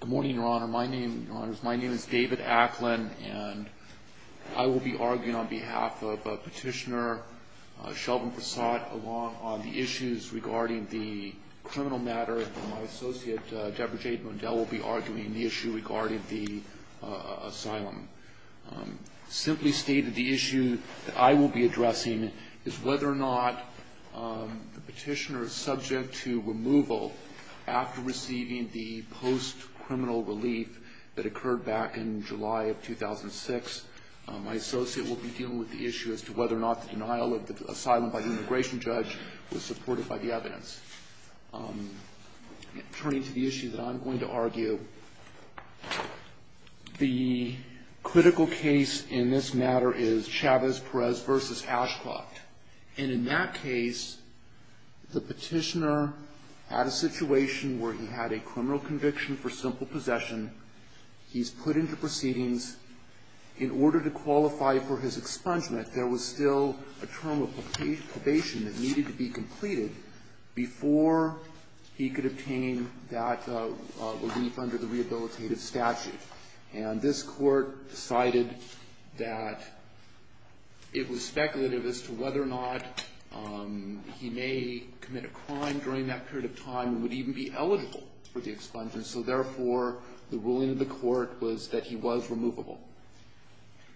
Good morning, Your Honor. My name is David Acklin, and I will be arguing on behalf of Petitioner Sheldon Prasad along on the issues regarding the criminal matter, and my associate Deborah Jade Mondell will be arguing the issue regarding the asylum. Simply stated, the issue that I will be addressing is whether or not the petitioner is subject to removal after receiving the post-criminal relief that occurred back in July of 2006. My associate will be dealing with the issue as to whether or not the denial of the asylum by the immigration judge was supported by the evidence. Turning to the issue that I'm going to argue, the critical case in this matter is Chavez-Perez v. Ashcroft. And in that case, the petitioner had a situation where he had a criminal conviction for simple possession. He's put into proceedings. In order to qualify for his expungement, there was still a term of probation that needed to be completed before he could obtain that relief under the rehabilitative statute. And this Court decided that it was speculative as to whether or not he may commit a crime during that period of time and would even be eligible for the expungement. So therefore, the ruling of the Court was that he was removable.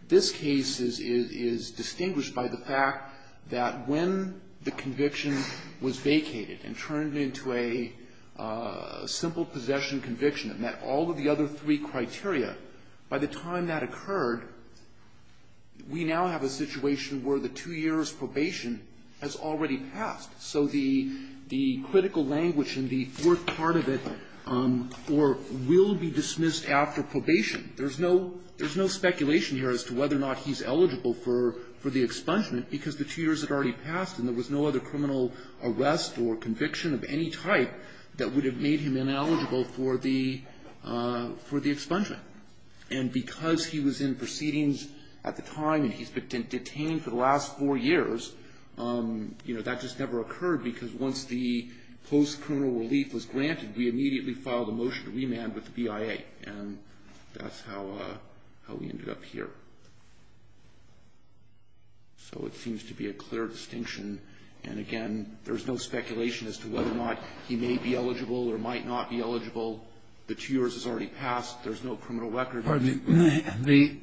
This case is distinguished by the fact that when the conviction was vacated and turned into a simple possession conviction that met all of the other three criteria, by the time that occurred, we now have a situation where the two years' probation has already passed. So the critical language in the fourth part of it will be dismissed after probation. There's no speculation here as to whether or not he's eligible for the expungement because the two years had already passed and there was no other criminal arrest or conviction of any type that would have made him ineligible for the expungement. And because he was in proceedings at the time and he's been detained for the last four years, that just never occurred because once the post-criminal relief was granted, we immediately filed a motion to remand with the BIA. And that's how we ended up here. So it seems to be a clear distinction. And again, there's no speculation as to whether or not he may be eligible or might not be eligible. The two years has already passed. There's no criminal record. Kennedy. The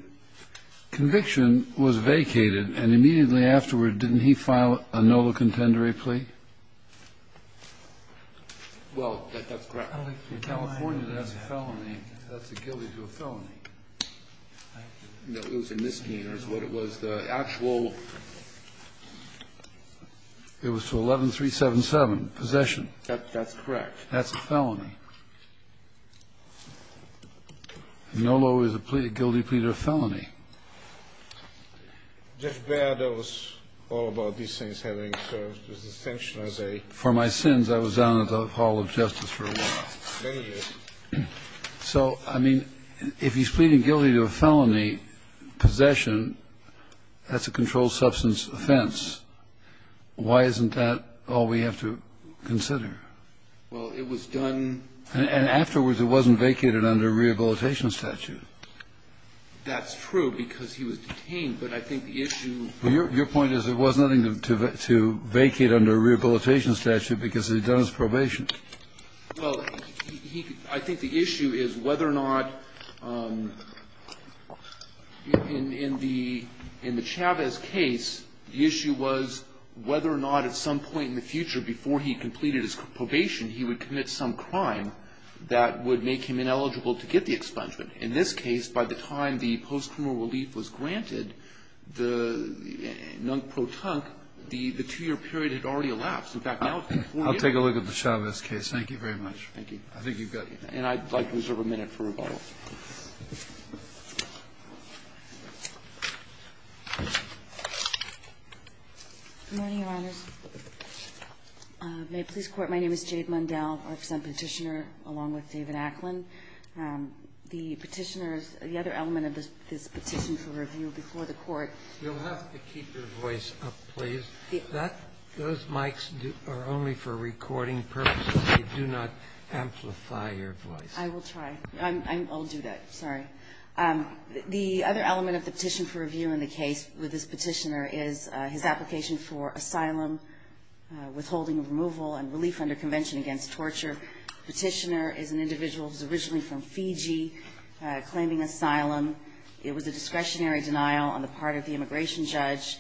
conviction was vacated, and immediately afterward, didn't he file a NOLA contendery plea? Well, that's correct. In California, that's a felony. That's a guilty to a felony. No, it was a misdemeanor. It was the actual. That's correct. That's a felony. NOLA was a guilty plea to a felony. Jeff Baird, I was all about these things having a distinction as a. For my sins, I was down at the Hall of Justice for a while. So, I mean, if he's pleading guilty to a felony possession, that's a controlled substance offense. Why isn't that all we have to consider? Well, it was done. And afterwards, it wasn't vacated under a rehabilitation statute. That's true, because he was detained. But I think the issue. Your point is there was nothing to vacate under a rehabilitation statute because it was done as probation. Well, I think the issue is whether or not in the Chavez case, the issue was whether or not at some point in the future before he completed his probation, he would commit some crime that would make him ineligible to get the expungement. In this case, by the time the post-criminal relief was granted, the non-pro-tunk, the two-year period had already elapsed. In fact, now. I'll take a look at the Chavez case. Thank you very much. Thank you. I think you've got. And I'd like to reserve a minute for rebuttal. Good morning, Your Honors. May it please the Court. My name is Jade Mundell. I'm a petitioner along with David Acklin. The petitioners, the other element of this petition for review before the Court. You'll have to keep your voice up, please. Those mics are only for recording purposes. They do not amplify your voice. I will try. I'll do that. Sorry. The other element of the petition for review in the case with this petitioner is his application for asylum, withholding of removal, and relief under convention against torture. The petitioner is an individual who is originally from Fiji, claiming asylum. It was a discretionary denial on the part of the immigration judge,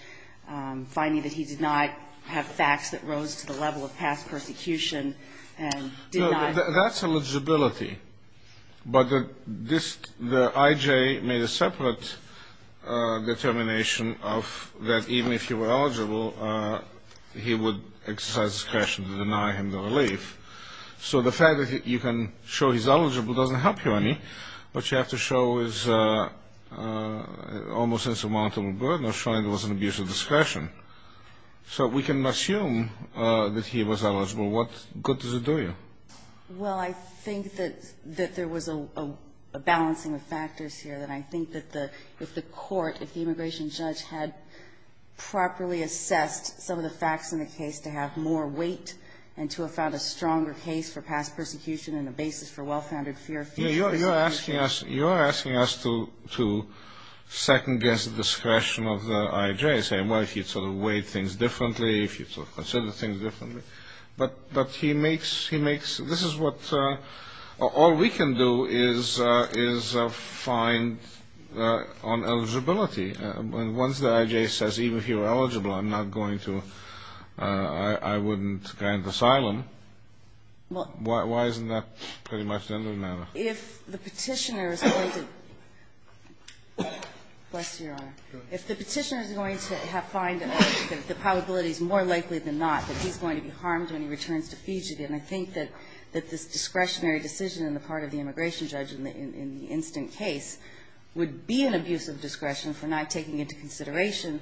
finding that he did not have facts that rose to the level of past persecution and did not. That's eligibility. But the IJ made a separate determination of that even if he were eligible, he would exercise discretion to deny him the relief. So the fact that you can show he's eligible doesn't help you any, but you have to show his almost insurmountable burden of showing there was an abuse of discretion. So we can assume that he was eligible. What good does it do you? Well, I think that there was a balancing of factors here, that I think that if the court, if the immigration judge, had properly assessed some of the facts in the case to have more weight and to have found a stronger case for past persecution and a basis for well-founded fear of future persecution. You're asking us to second-guess the discretion of the IJ, saying, well, if you sort of weighed things differently, if you sort of considered things differently. But he makes, he makes, this is what, all we can do is find on eligibility. Once the IJ says even if you're eligible, I'm not going to, I wouldn't grant asylum, why isn't that pretty much the end of the matter? If the Petitioner is going to, bless your honor, if the Petitioner is going to find that the probability is more likely than not that he's going to be harmed when he returns to Fiji. And I think that this discretionary decision on the part of the immigration judge in the instant case would be an abuse of discretion for not taking into consideration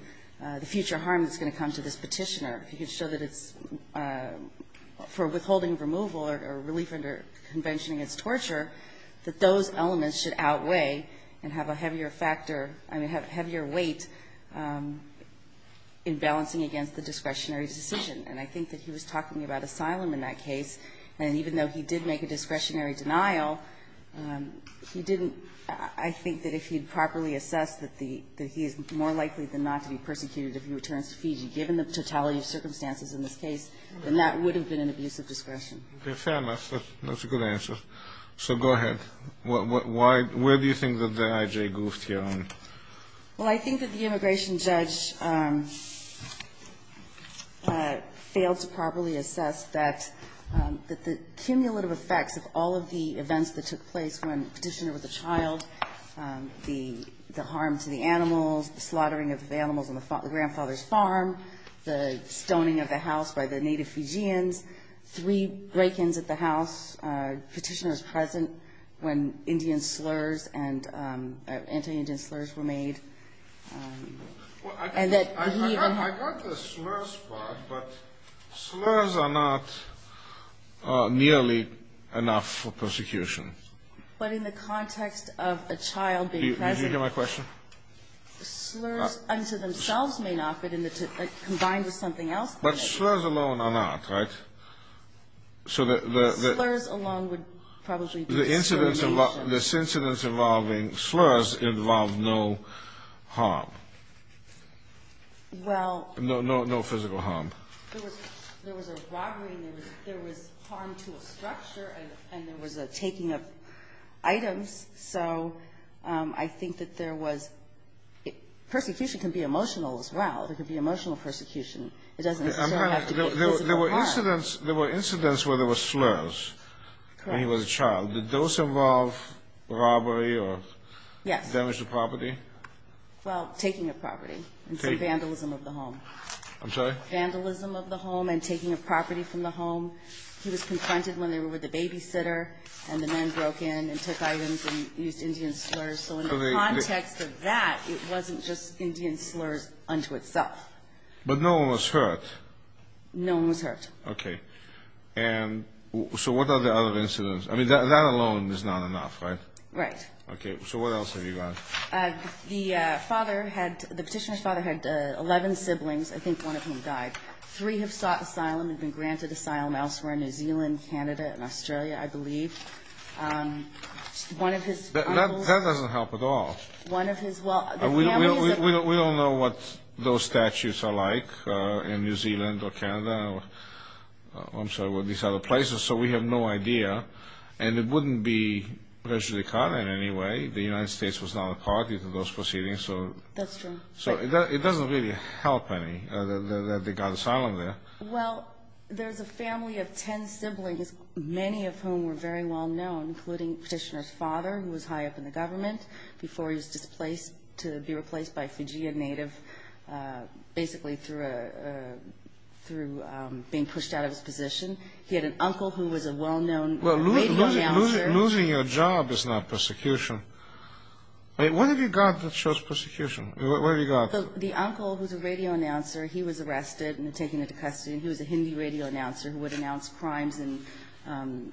the future harm that's going to come to this Petitioner. If you could show that it's for withholding removal or relief under convention against torture, that those elements should outweigh and have a heavier factor, I mean, have a heavier weight in balancing against the discretionary decision. And I think that he was talking about asylum in that case. And even though he did make a discretionary denial, he didn't, I think that if he'd properly assess that the, that he is more likely than not to be persecuted if he returns to Fiji, given the totality of circumstances in this case, then that would have been an abuse of discretion. Okay. Fair enough. That's a good answer. So go ahead. Why, where do you think that the IJ goofed here on? Well, I think that the immigration judge failed to properly assess that, that the cumulative effects of all of the events that took place when Petitioner was a child, the harm to the animals, the slaughtering of animals on the grandfather's farm, the stoning of the house by the native Fijians, three break-ins at the house, Petitioner was present when Indian slurs and anti-Indian slurs were made, and that he even had to be present. I got the slurs part, but slurs are not nearly enough for persecution. But in the context of a child being present. Did you get my question? Slurs unto themselves may not, but in the, combined with something else. But slurs alone are not, right? Slurs alone would probably be discrimination. The incidents involving slurs involved no harm. Well. No physical harm. There was a robbery. There was harm to a structure, and there was a taking of items. So I think that there was, persecution can be emotional as well. It doesn't necessarily have to be physical harm. There were incidents where there were slurs when he was a child. Correct. Did those involve robbery or damage to property? Yes. Well, taking of property and some vandalism of the home. I'm sorry? Vandalism of the home and taking of property from the home. He was confronted when they were with the babysitter, and the men broke in and took items and used Indian slurs. So in the context of that, it wasn't just Indian slurs unto itself. But no one was hurt. No one was hurt. Okay. And so what are the other incidents? I mean, that alone is not enough, right? Right. Okay. So what else have you got? The father had, the petitioner's father had 11 siblings. I think one of him died. Three have sought asylum and been granted asylum elsewhere in New Zealand, Canada, and Australia, I believe. One of his uncles. That doesn't help at all. One of his, well, the family is. We don't know what those statutes are like in New Zealand or Canada. I'm sorry, these other places. So we have no idea. And it wouldn't be visually caught in any way. The United States was not a party to those proceedings. That's true. So it doesn't really help any that they got asylum there. Well, there's a family of 10 siblings, many of whom were very well-known, including petitioner's father, who was high up in the government before he was displaced to be replaced by a Fijian native, basically through being pushed out of his position. He had an uncle who was a well-known radio announcer. Well, losing your job is not persecution. What have you got that shows persecution? What have you got? The uncle who's a radio announcer, he was arrested and taken into custody, and he was a Hindi radio announcer who would announce crimes and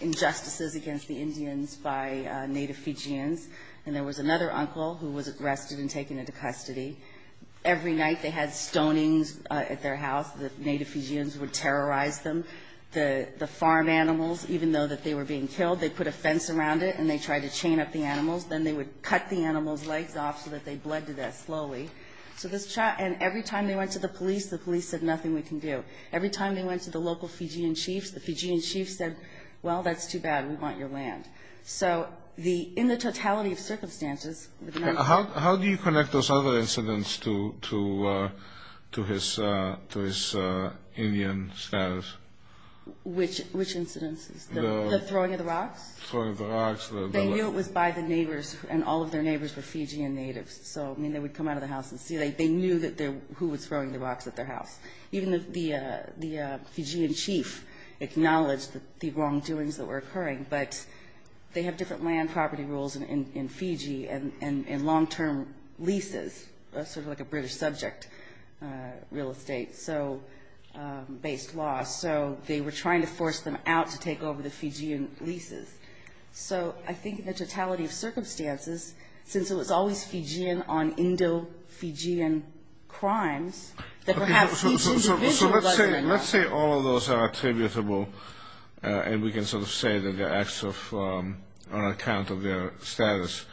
injustices against the Indians by native Fijians. And there was another uncle who was arrested and taken into custody. Every night they had stonings at their house. The native Fijians would terrorize them. The farm animals, even though that they were being killed, they put a fence around it, and they tried to chain up the animals. Then they would cut the animals' legs off so that they bled to death slowly. And every time they went to the police, the police said, nothing we can do. Every time they went to the local Fijian chiefs, the Fijian chiefs said, well, that's too bad. We want your land. So in the totality of circumstances. How do you connect those other incidents to his Indian status? Which incidents? The throwing of the rocks? Throwing of the rocks. They knew it was by the neighbors, and all of their neighbors were Fijian natives. So, I mean, they would come out of the house and see. They knew who was throwing the rocks at their house. Even the Fijian chief acknowledged the wrongdoings that were occurring. But they have different land property rules in Fiji and long-term leases, sort of like a British subject, real estate-based law. So they were trying to force them out to take over the Fijian leases. So I think the totality of circumstances, since it was always Fijian on Indo-Fijian crimes, that perhaps each individual was doing that. So let's say all of those are attributable, and we can sort of say that they're acts on account of their status.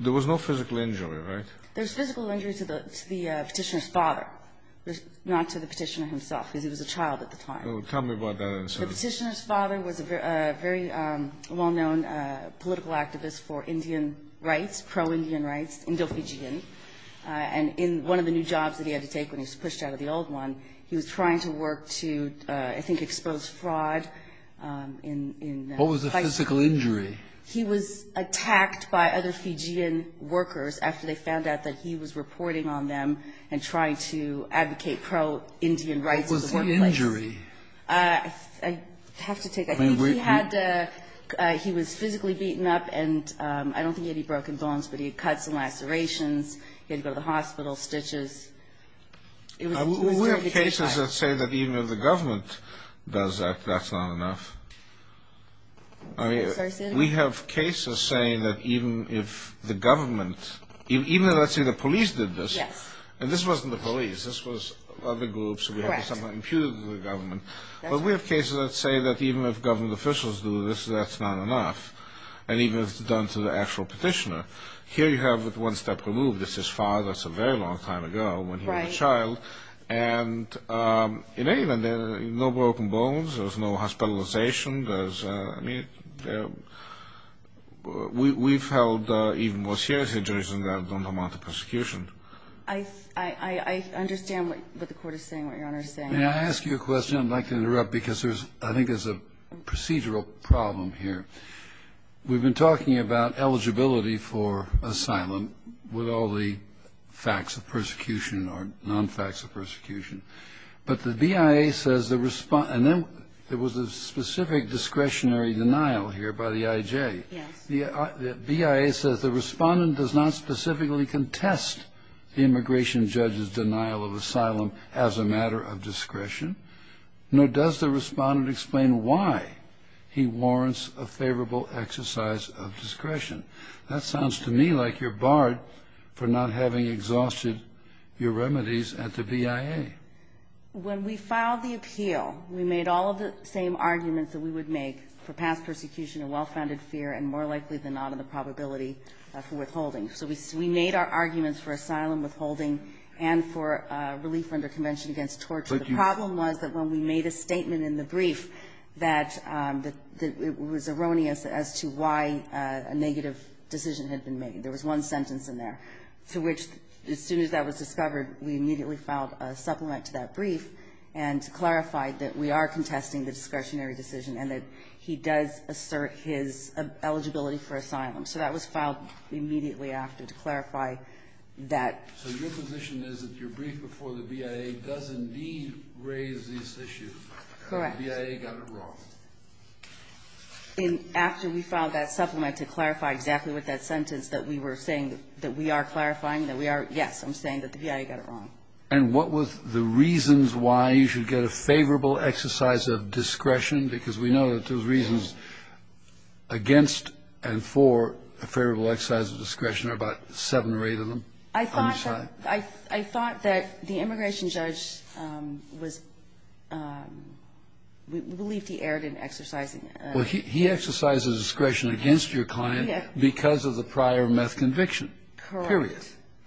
There was no physical injury, right? There was physical injury to the petitioner's father, not to the petitioner himself, because he was a child at the time. Tell me about that incident. The petitioner's father was a very well-known political activist for Indian rights, pro-Indian rights, Indo-Fijian. And in one of the new jobs that he had to take when he was pushed out of the old one, he was trying to work to, I think, expose fraud in the fights. What was the physical injury? He was attacked by other Fijian workers after they found out that he was reporting on them and trying to advocate pro-Indian rights in the workplace. What was the injury? I have to take that. I think he had a – he was physically beaten up, and I don't think he had any broken bones, but he had cuts and lacerations. He had to go to the hospital, stitches. We have cases that say that even if the government does that, that's not enough. I mean, we have cases saying that even if the government – even if, let's say, the police did this, and this wasn't the police. This was other groups. We have something imputed to the government. But we have cases that say that even if government officials do this, that's not enough, and even if it's done to the actual petitioner, here you have it one step removed. This is father. It's a very long time ago when he was a child. Right. And in England, there are no broken bones. There's no hospitalization. There's – I mean, we've held even more serious injuries than that that don't amount to persecution. I understand what the Court is saying, what Your Honor is saying. May I ask you a question? I'd like to interrupt because there's – I think there's a procedural problem here. We've been talking about eligibility for asylum with all the facts of persecution or non-facts of persecution. But the BIA says the – and then there was a specific discretionary denial here by the IJ. Yes. The BIA says the respondent does not specifically contest the immigration judge's denial of asylum as a matter of discretion, nor does the respondent explain why he warrants a favorable exercise of discretion. That sounds to me like you're barred for not having exhausted your remedies at the BIA. When we filed the appeal, we made all of the same arguments that we would make for past persecution and well-founded fear and more likely than not on the probability for withholding. So we made our arguments for asylum, withholding, and for relief under Convention Against Torture. The problem was that when we made a statement in the brief that it was erroneous as to why a negative decision had been made. There was one sentence in there to which as soon as that was discovered, we immediately filed a supplement to that brief and clarified that we are contesting the discretionary decision and that he does assert his eligibility for asylum. So that was filed immediately after to clarify that. So your position is that your brief before the BIA does indeed raise this issue. Correct. The BIA got it wrong. And after we filed that supplement to clarify exactly what that sentence that we were saying that we are clarifying, that we are, yes, I'm saying that the BIA got it wrong. And what was the reasons why you should get a favorable exercise of discretion? Because we know that those reasons against and for a favorable exercise of discretion are about seven or eight of them. I thought that the immigration judge was we believe he erred in exercising. Well, he exercises discretion against your client because of the prior meth conviction. Correct. Period.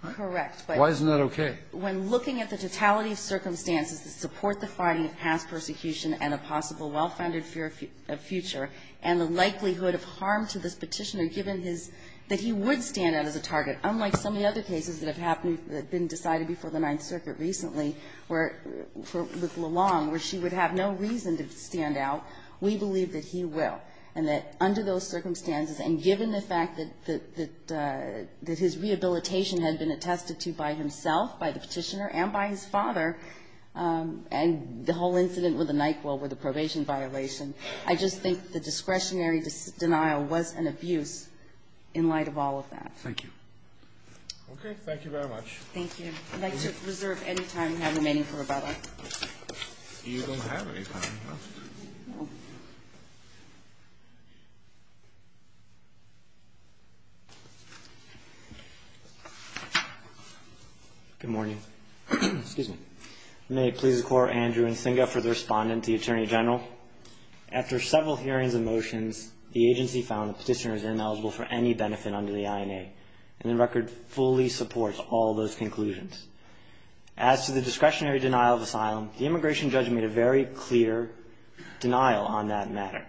Correct. Why isn't that okay? When looking at the totality of circumstances that support the finding of past persecution and a possible well-founded fear of future and the likelihood of harm to this Petitioner that he would stand out as a target, unlike some of the other cases that have happened that have been decided before the Ninth Circuit recently where, with Lalonde, where she would have no reason to stand out, we believe that he will. And that under those circumstances and given the fact that his rehabilitation had been attested to by himself, by the Petitioner, and by his father, and the whole incident with the NyQuil with the probation violation, I just think the discretionary denial was an abuse in light of all of that. Thank you. Okay. Thank you very much. Thank you. I'd like to reserve any time we have remaining for rebuttal. You don't have any time left. No. Good morning. Excuse me. May it please the Court, Andrew Nsinga for the respondent to the Attorney General. After several hearings and motions, the agency found the Petitioner is ineligible for any benefit under the INA, and the record fully supports all those conclusions. As to the discretionary denial of asylum, the immigration judge made a very clear denial on that matter.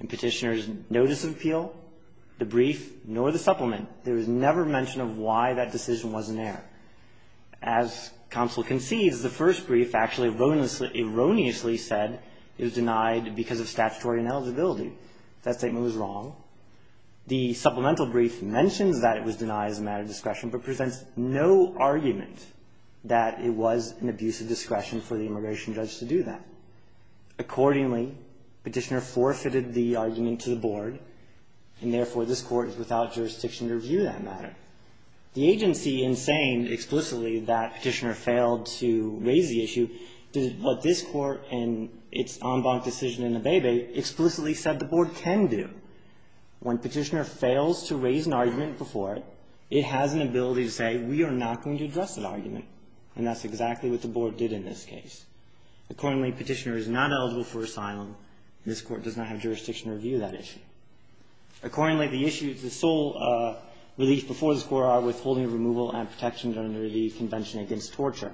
In Petitioner's notice of appeal, the brief, nor the supplement, there was never mention of why that decision was in error. As counsel concedes, the first brief actually erroneously said it was denied because of statutory ineligibility. That statement was wrong. The supplemental brief mentions that it was denied as a matter of discretion, but presents no argument that it was an abuse of discretion for the immigration judge to do that. Accordingly, Petitioner forfeited the argument to the Board, and therefore, this Court is without jurisdiction to review that matter. The agency, in saying explicitly that Petitioner failed to raise the issue, but this Court, in its en banc decision in Abebe, explicitly said the Board can do. When Petitioner fails to raise an argument before it, it has an ability to say we are not going to address that argument, and that's exactly what the Board did in this case. Accordingly, Petitioner is not eligible for asylum, and this Court does not have jurisdiction to review that issue. Accordingly, the issues, the sole relief before this Court are withholding removal and protection under the Convention Against Torture.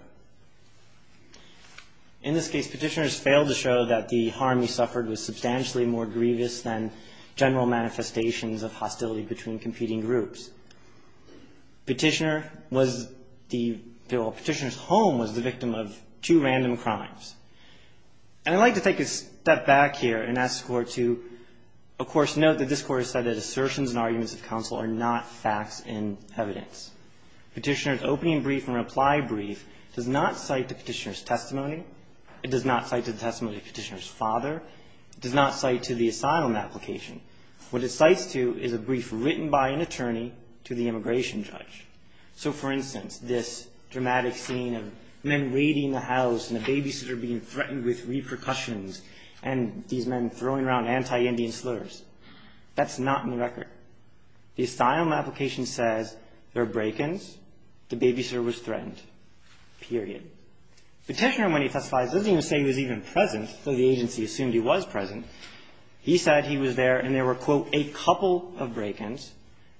In this case, Petitioner has failed to show that the harm he suffered was substantially more grievous than general manifestations of hostility between competing groups. Petitioner was the – well, Petitioner's home was the victim of two random crimes. And I'd like to take a step back here and ask the Court to, of course, note that this Court has said that assertions and arguments of counsel are not facts and evidence. Petitioner's opening brief and reply brief does not cite the Petitioner's testimony. It does not cite the testimony of Petitioner's father. It does not cite to the asylum application. What it cites to is a brief written by an attorney to the immigration judge. So, for instance, this dramatic scene of men raiding the house and the babysitter being threatened with repercussions and these men throwing around anti-Indian slurs, that's not in the record. The asylum application says there are break-ins, the babysitter was threatened, period. Petitioner, when he testifies, doesn't even say he was even present, though the agency assumed he was present. He said he was there and there were, quote, a couple of break-ins.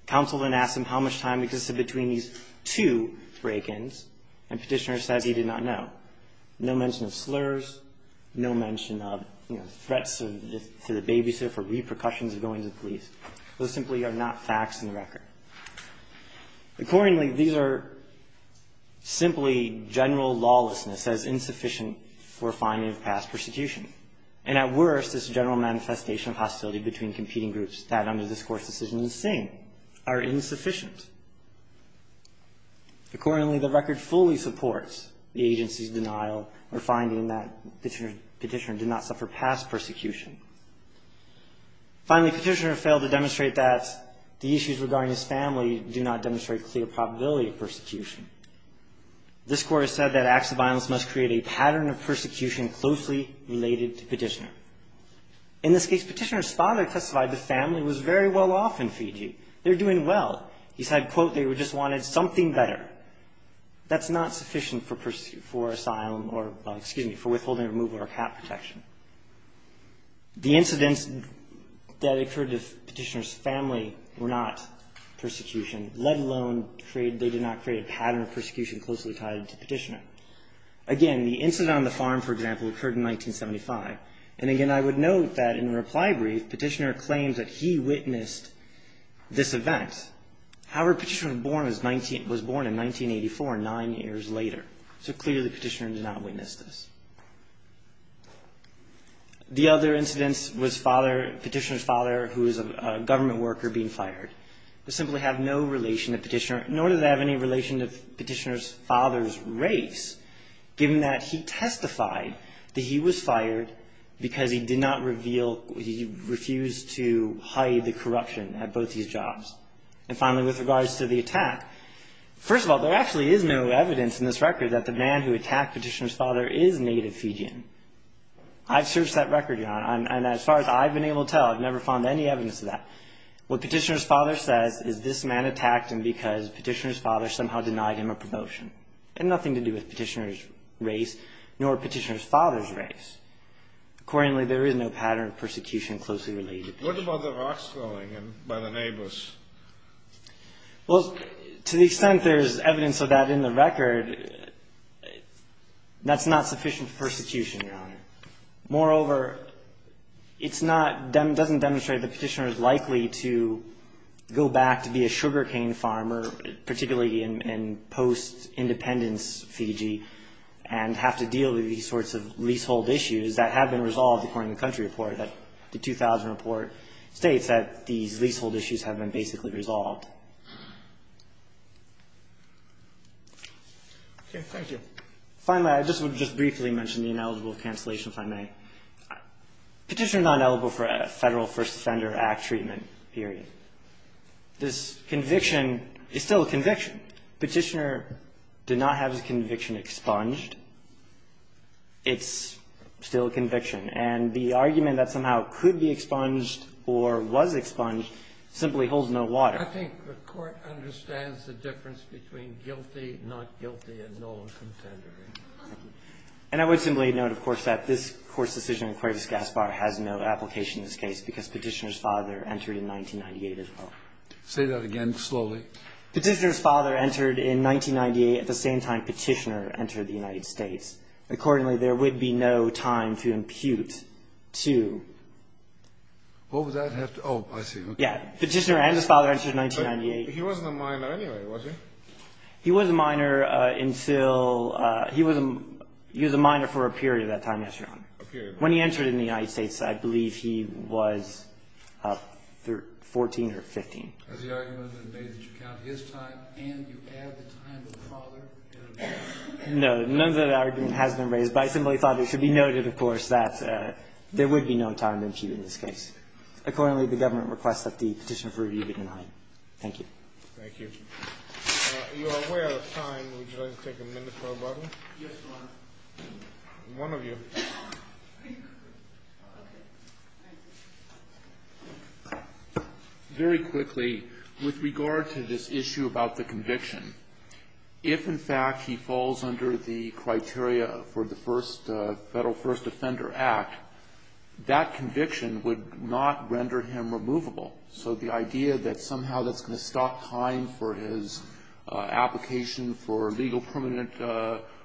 Counsel then asks him how much time existed between these two break-ins, and Petitioner says he did not know. No mention of slurs, no mention of, you know, threats to the babysitter for repercussions of going to the police. Those simply are not facts in the record. Accordingly, these are simply general lawlessness as insufficient for finding of past persecution. And at worst, it's a general manifestation of hostility between competing groups that under this Court's decision are the same, are insufficient. Accordingly, the record fully supports the agency's denial or finding that Petitioner did not suffer past persecution. Finally, Petitioner failed to demonstrate that the issues regarding his family do not demonstrate clear probability of persecution. This Court has said that acts of violence must create a pattern of persecution closely related to Petitioner. In this case, Petitioner's father testified the family was very well off in Fiji. They're doing well. He said, quote, they just wanted something better. That's not sufficient for asylum or, excuse me, for withholding removal or cat protection. The incidents that occurred to Petitioner's family were not persecution, let alone create they did not create a pattern of persecution closely tied to Petitioner. Again, the incident on the farm, for example, occurred in 1975. And again, I would note that in the reply brief, Petitioner claims that he witnessed this event. However, Petitioner was born in 1984, nine years later. So clearly, Petitioner did not witness this. The other incident was Petitioner's father, who was a government worker, being fired. This simply has no relation to Petitioner, nor does it have any relation to Petitioner's father's race, given that he testified that he was fired because he did not reveal, he refused to hide the corruption at both these jobs. And finally, with regards to the attack, first of all, there actually is no evidence in this record that the man who attacked Petitioner's father is native Fijian. I've searched that record, Your Honor, and as far as I've been able to tell, I've never found any evidence of that. What Petitioner's father says is this man attacked him because Petitioner's father somehow denied him a promotion. It had nothing to do with Petitioner's race, nor Petitioner's father's race. Accordingly, there is no pattern of persecution closely related to this. What about the rocks falling by the neighbors? Well, to the extent there's evidence of that in the record, that's not sufficient persecution, Your Honor. Moreover, it's not, doesn't demonstrate that Petitioner is likely to go back to be a sugar cane farmer, particularly in post-independence Fiji, and have to deal with these sorts of leasehold issues that have been resolved, according to the country report. The 2000 report states that these leasehold issues have been basically resolved. Okay. Thank you. Finally, I just would just briefly mention the ineligible cancellation, if I may. Petitioner is not eligible for a Federal First Offender Act treatment, period. This conviction is still a conviction. Petitioner did not have his conviction expunged. It's still a conviction. And the argument that somehow could be expunged or was expunged simply holds no water. I think the Court understands the difference between guilty, not guilty, and no contendering. And I would simply note, of course, that this Court's decision in Cuevas-Gaspar has no application in this case because Petitioner's father entered in 1998 as well. Say that again slowly. Petitioner's father entered in 1998 at the same time Petitioner entered the United States. Accordingly, there would be no time to impute to. What would that have to do? Oh, I see. Yeah. Petitioner and his father entered in 1998. But he wasn't a minor anyway, was he? He was a minor until he was a minor for a period of that time, Yes, Your Honor. A period. When he entered in the United States, I believe he was 14 or 15. Has the argument been made that you count his time and you add the time of the father? No. None of that argument has been raised, but I simply thought it should be noted, of course, that there would be no time to impute in this case. Accordingly, the government requests that the Petitioner for Review be denied. Thank you. Thank you. You are way out of time. Would you like to take a minute for a moment? Yes, Your Honor. One of you. Okay. Thank you. Very quickly, with regard to this issue about the conviction, if, in fact, he falls under the criteria for the Federal First Offender Act, that conviction would not render him removable. So the idea that somehow that's going to stop time for his application for legal permanent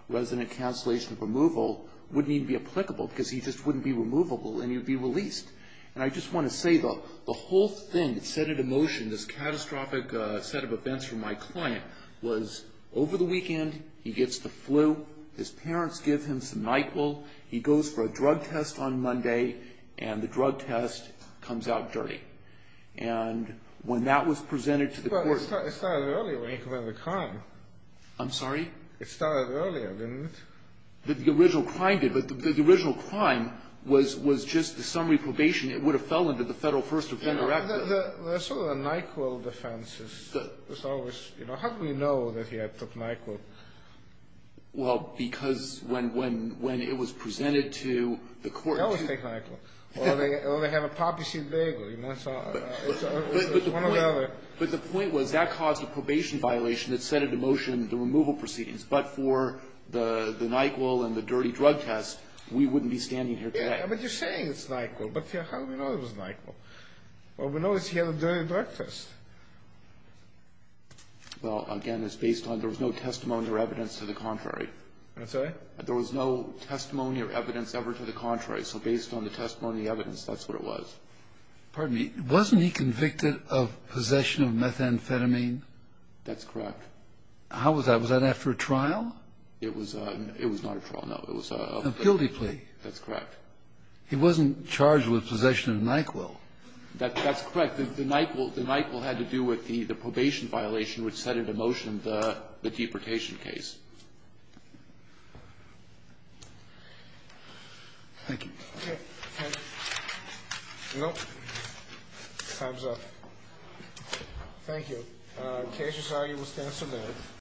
resident cancellation removal wouldn't even be applicable because he just wouldn't be removable and he would be released. And I just want to say, though, the whole thing that set into motion this catastrophic set of events for my client was over the weekend, he gets the flu, his parents give him some NyQuil, he goes for a drug test on Monday, and the drug test comes out dirty. And when that was presented to the court... But it started earlier when he committed the crime. I'm sorry? It started earlier, didn't it? The original crime did, but the original crime was just the summary probation. It would have fell under the Federal First Offender Act. But the sort of the NyQuil defense is always, you know, how do we know that he took NyQuil? Well, because when it was presented to the court... They always take NyQuil. Or they have a poppy seed bagel, you know, so it's one or the other. But the point was that caused a probation violation that set into motion the removal proceedings. But for the NyQuil and the dirty drug test, we wouldn't be standing here today. Yeah, but you're saying it's NyQuil. But how do we know it was NyQuil? Well, we know it's here during breakfast. Well, again, it's based on there was no testimony or evidence to the contrary. I'm sorry? There was no testimony or evidence ever to the contrary. So based on the testimony and the evidence, that's what it was. Pardon me. Wasn't he convicted of possession of methamphetamine? That's correct. How was that? Was that after a trial? It was not a trial, no. It was a... A guilty plea. That's correct. He wasn't charged with possession of NyQuil. That's correct. The NyQuil had to do with the probation violation which set into motion the deportation case. Thank you. Okay. Thank you. Nope. Time's up. Thank you. The case aside, we'll stand for a minute.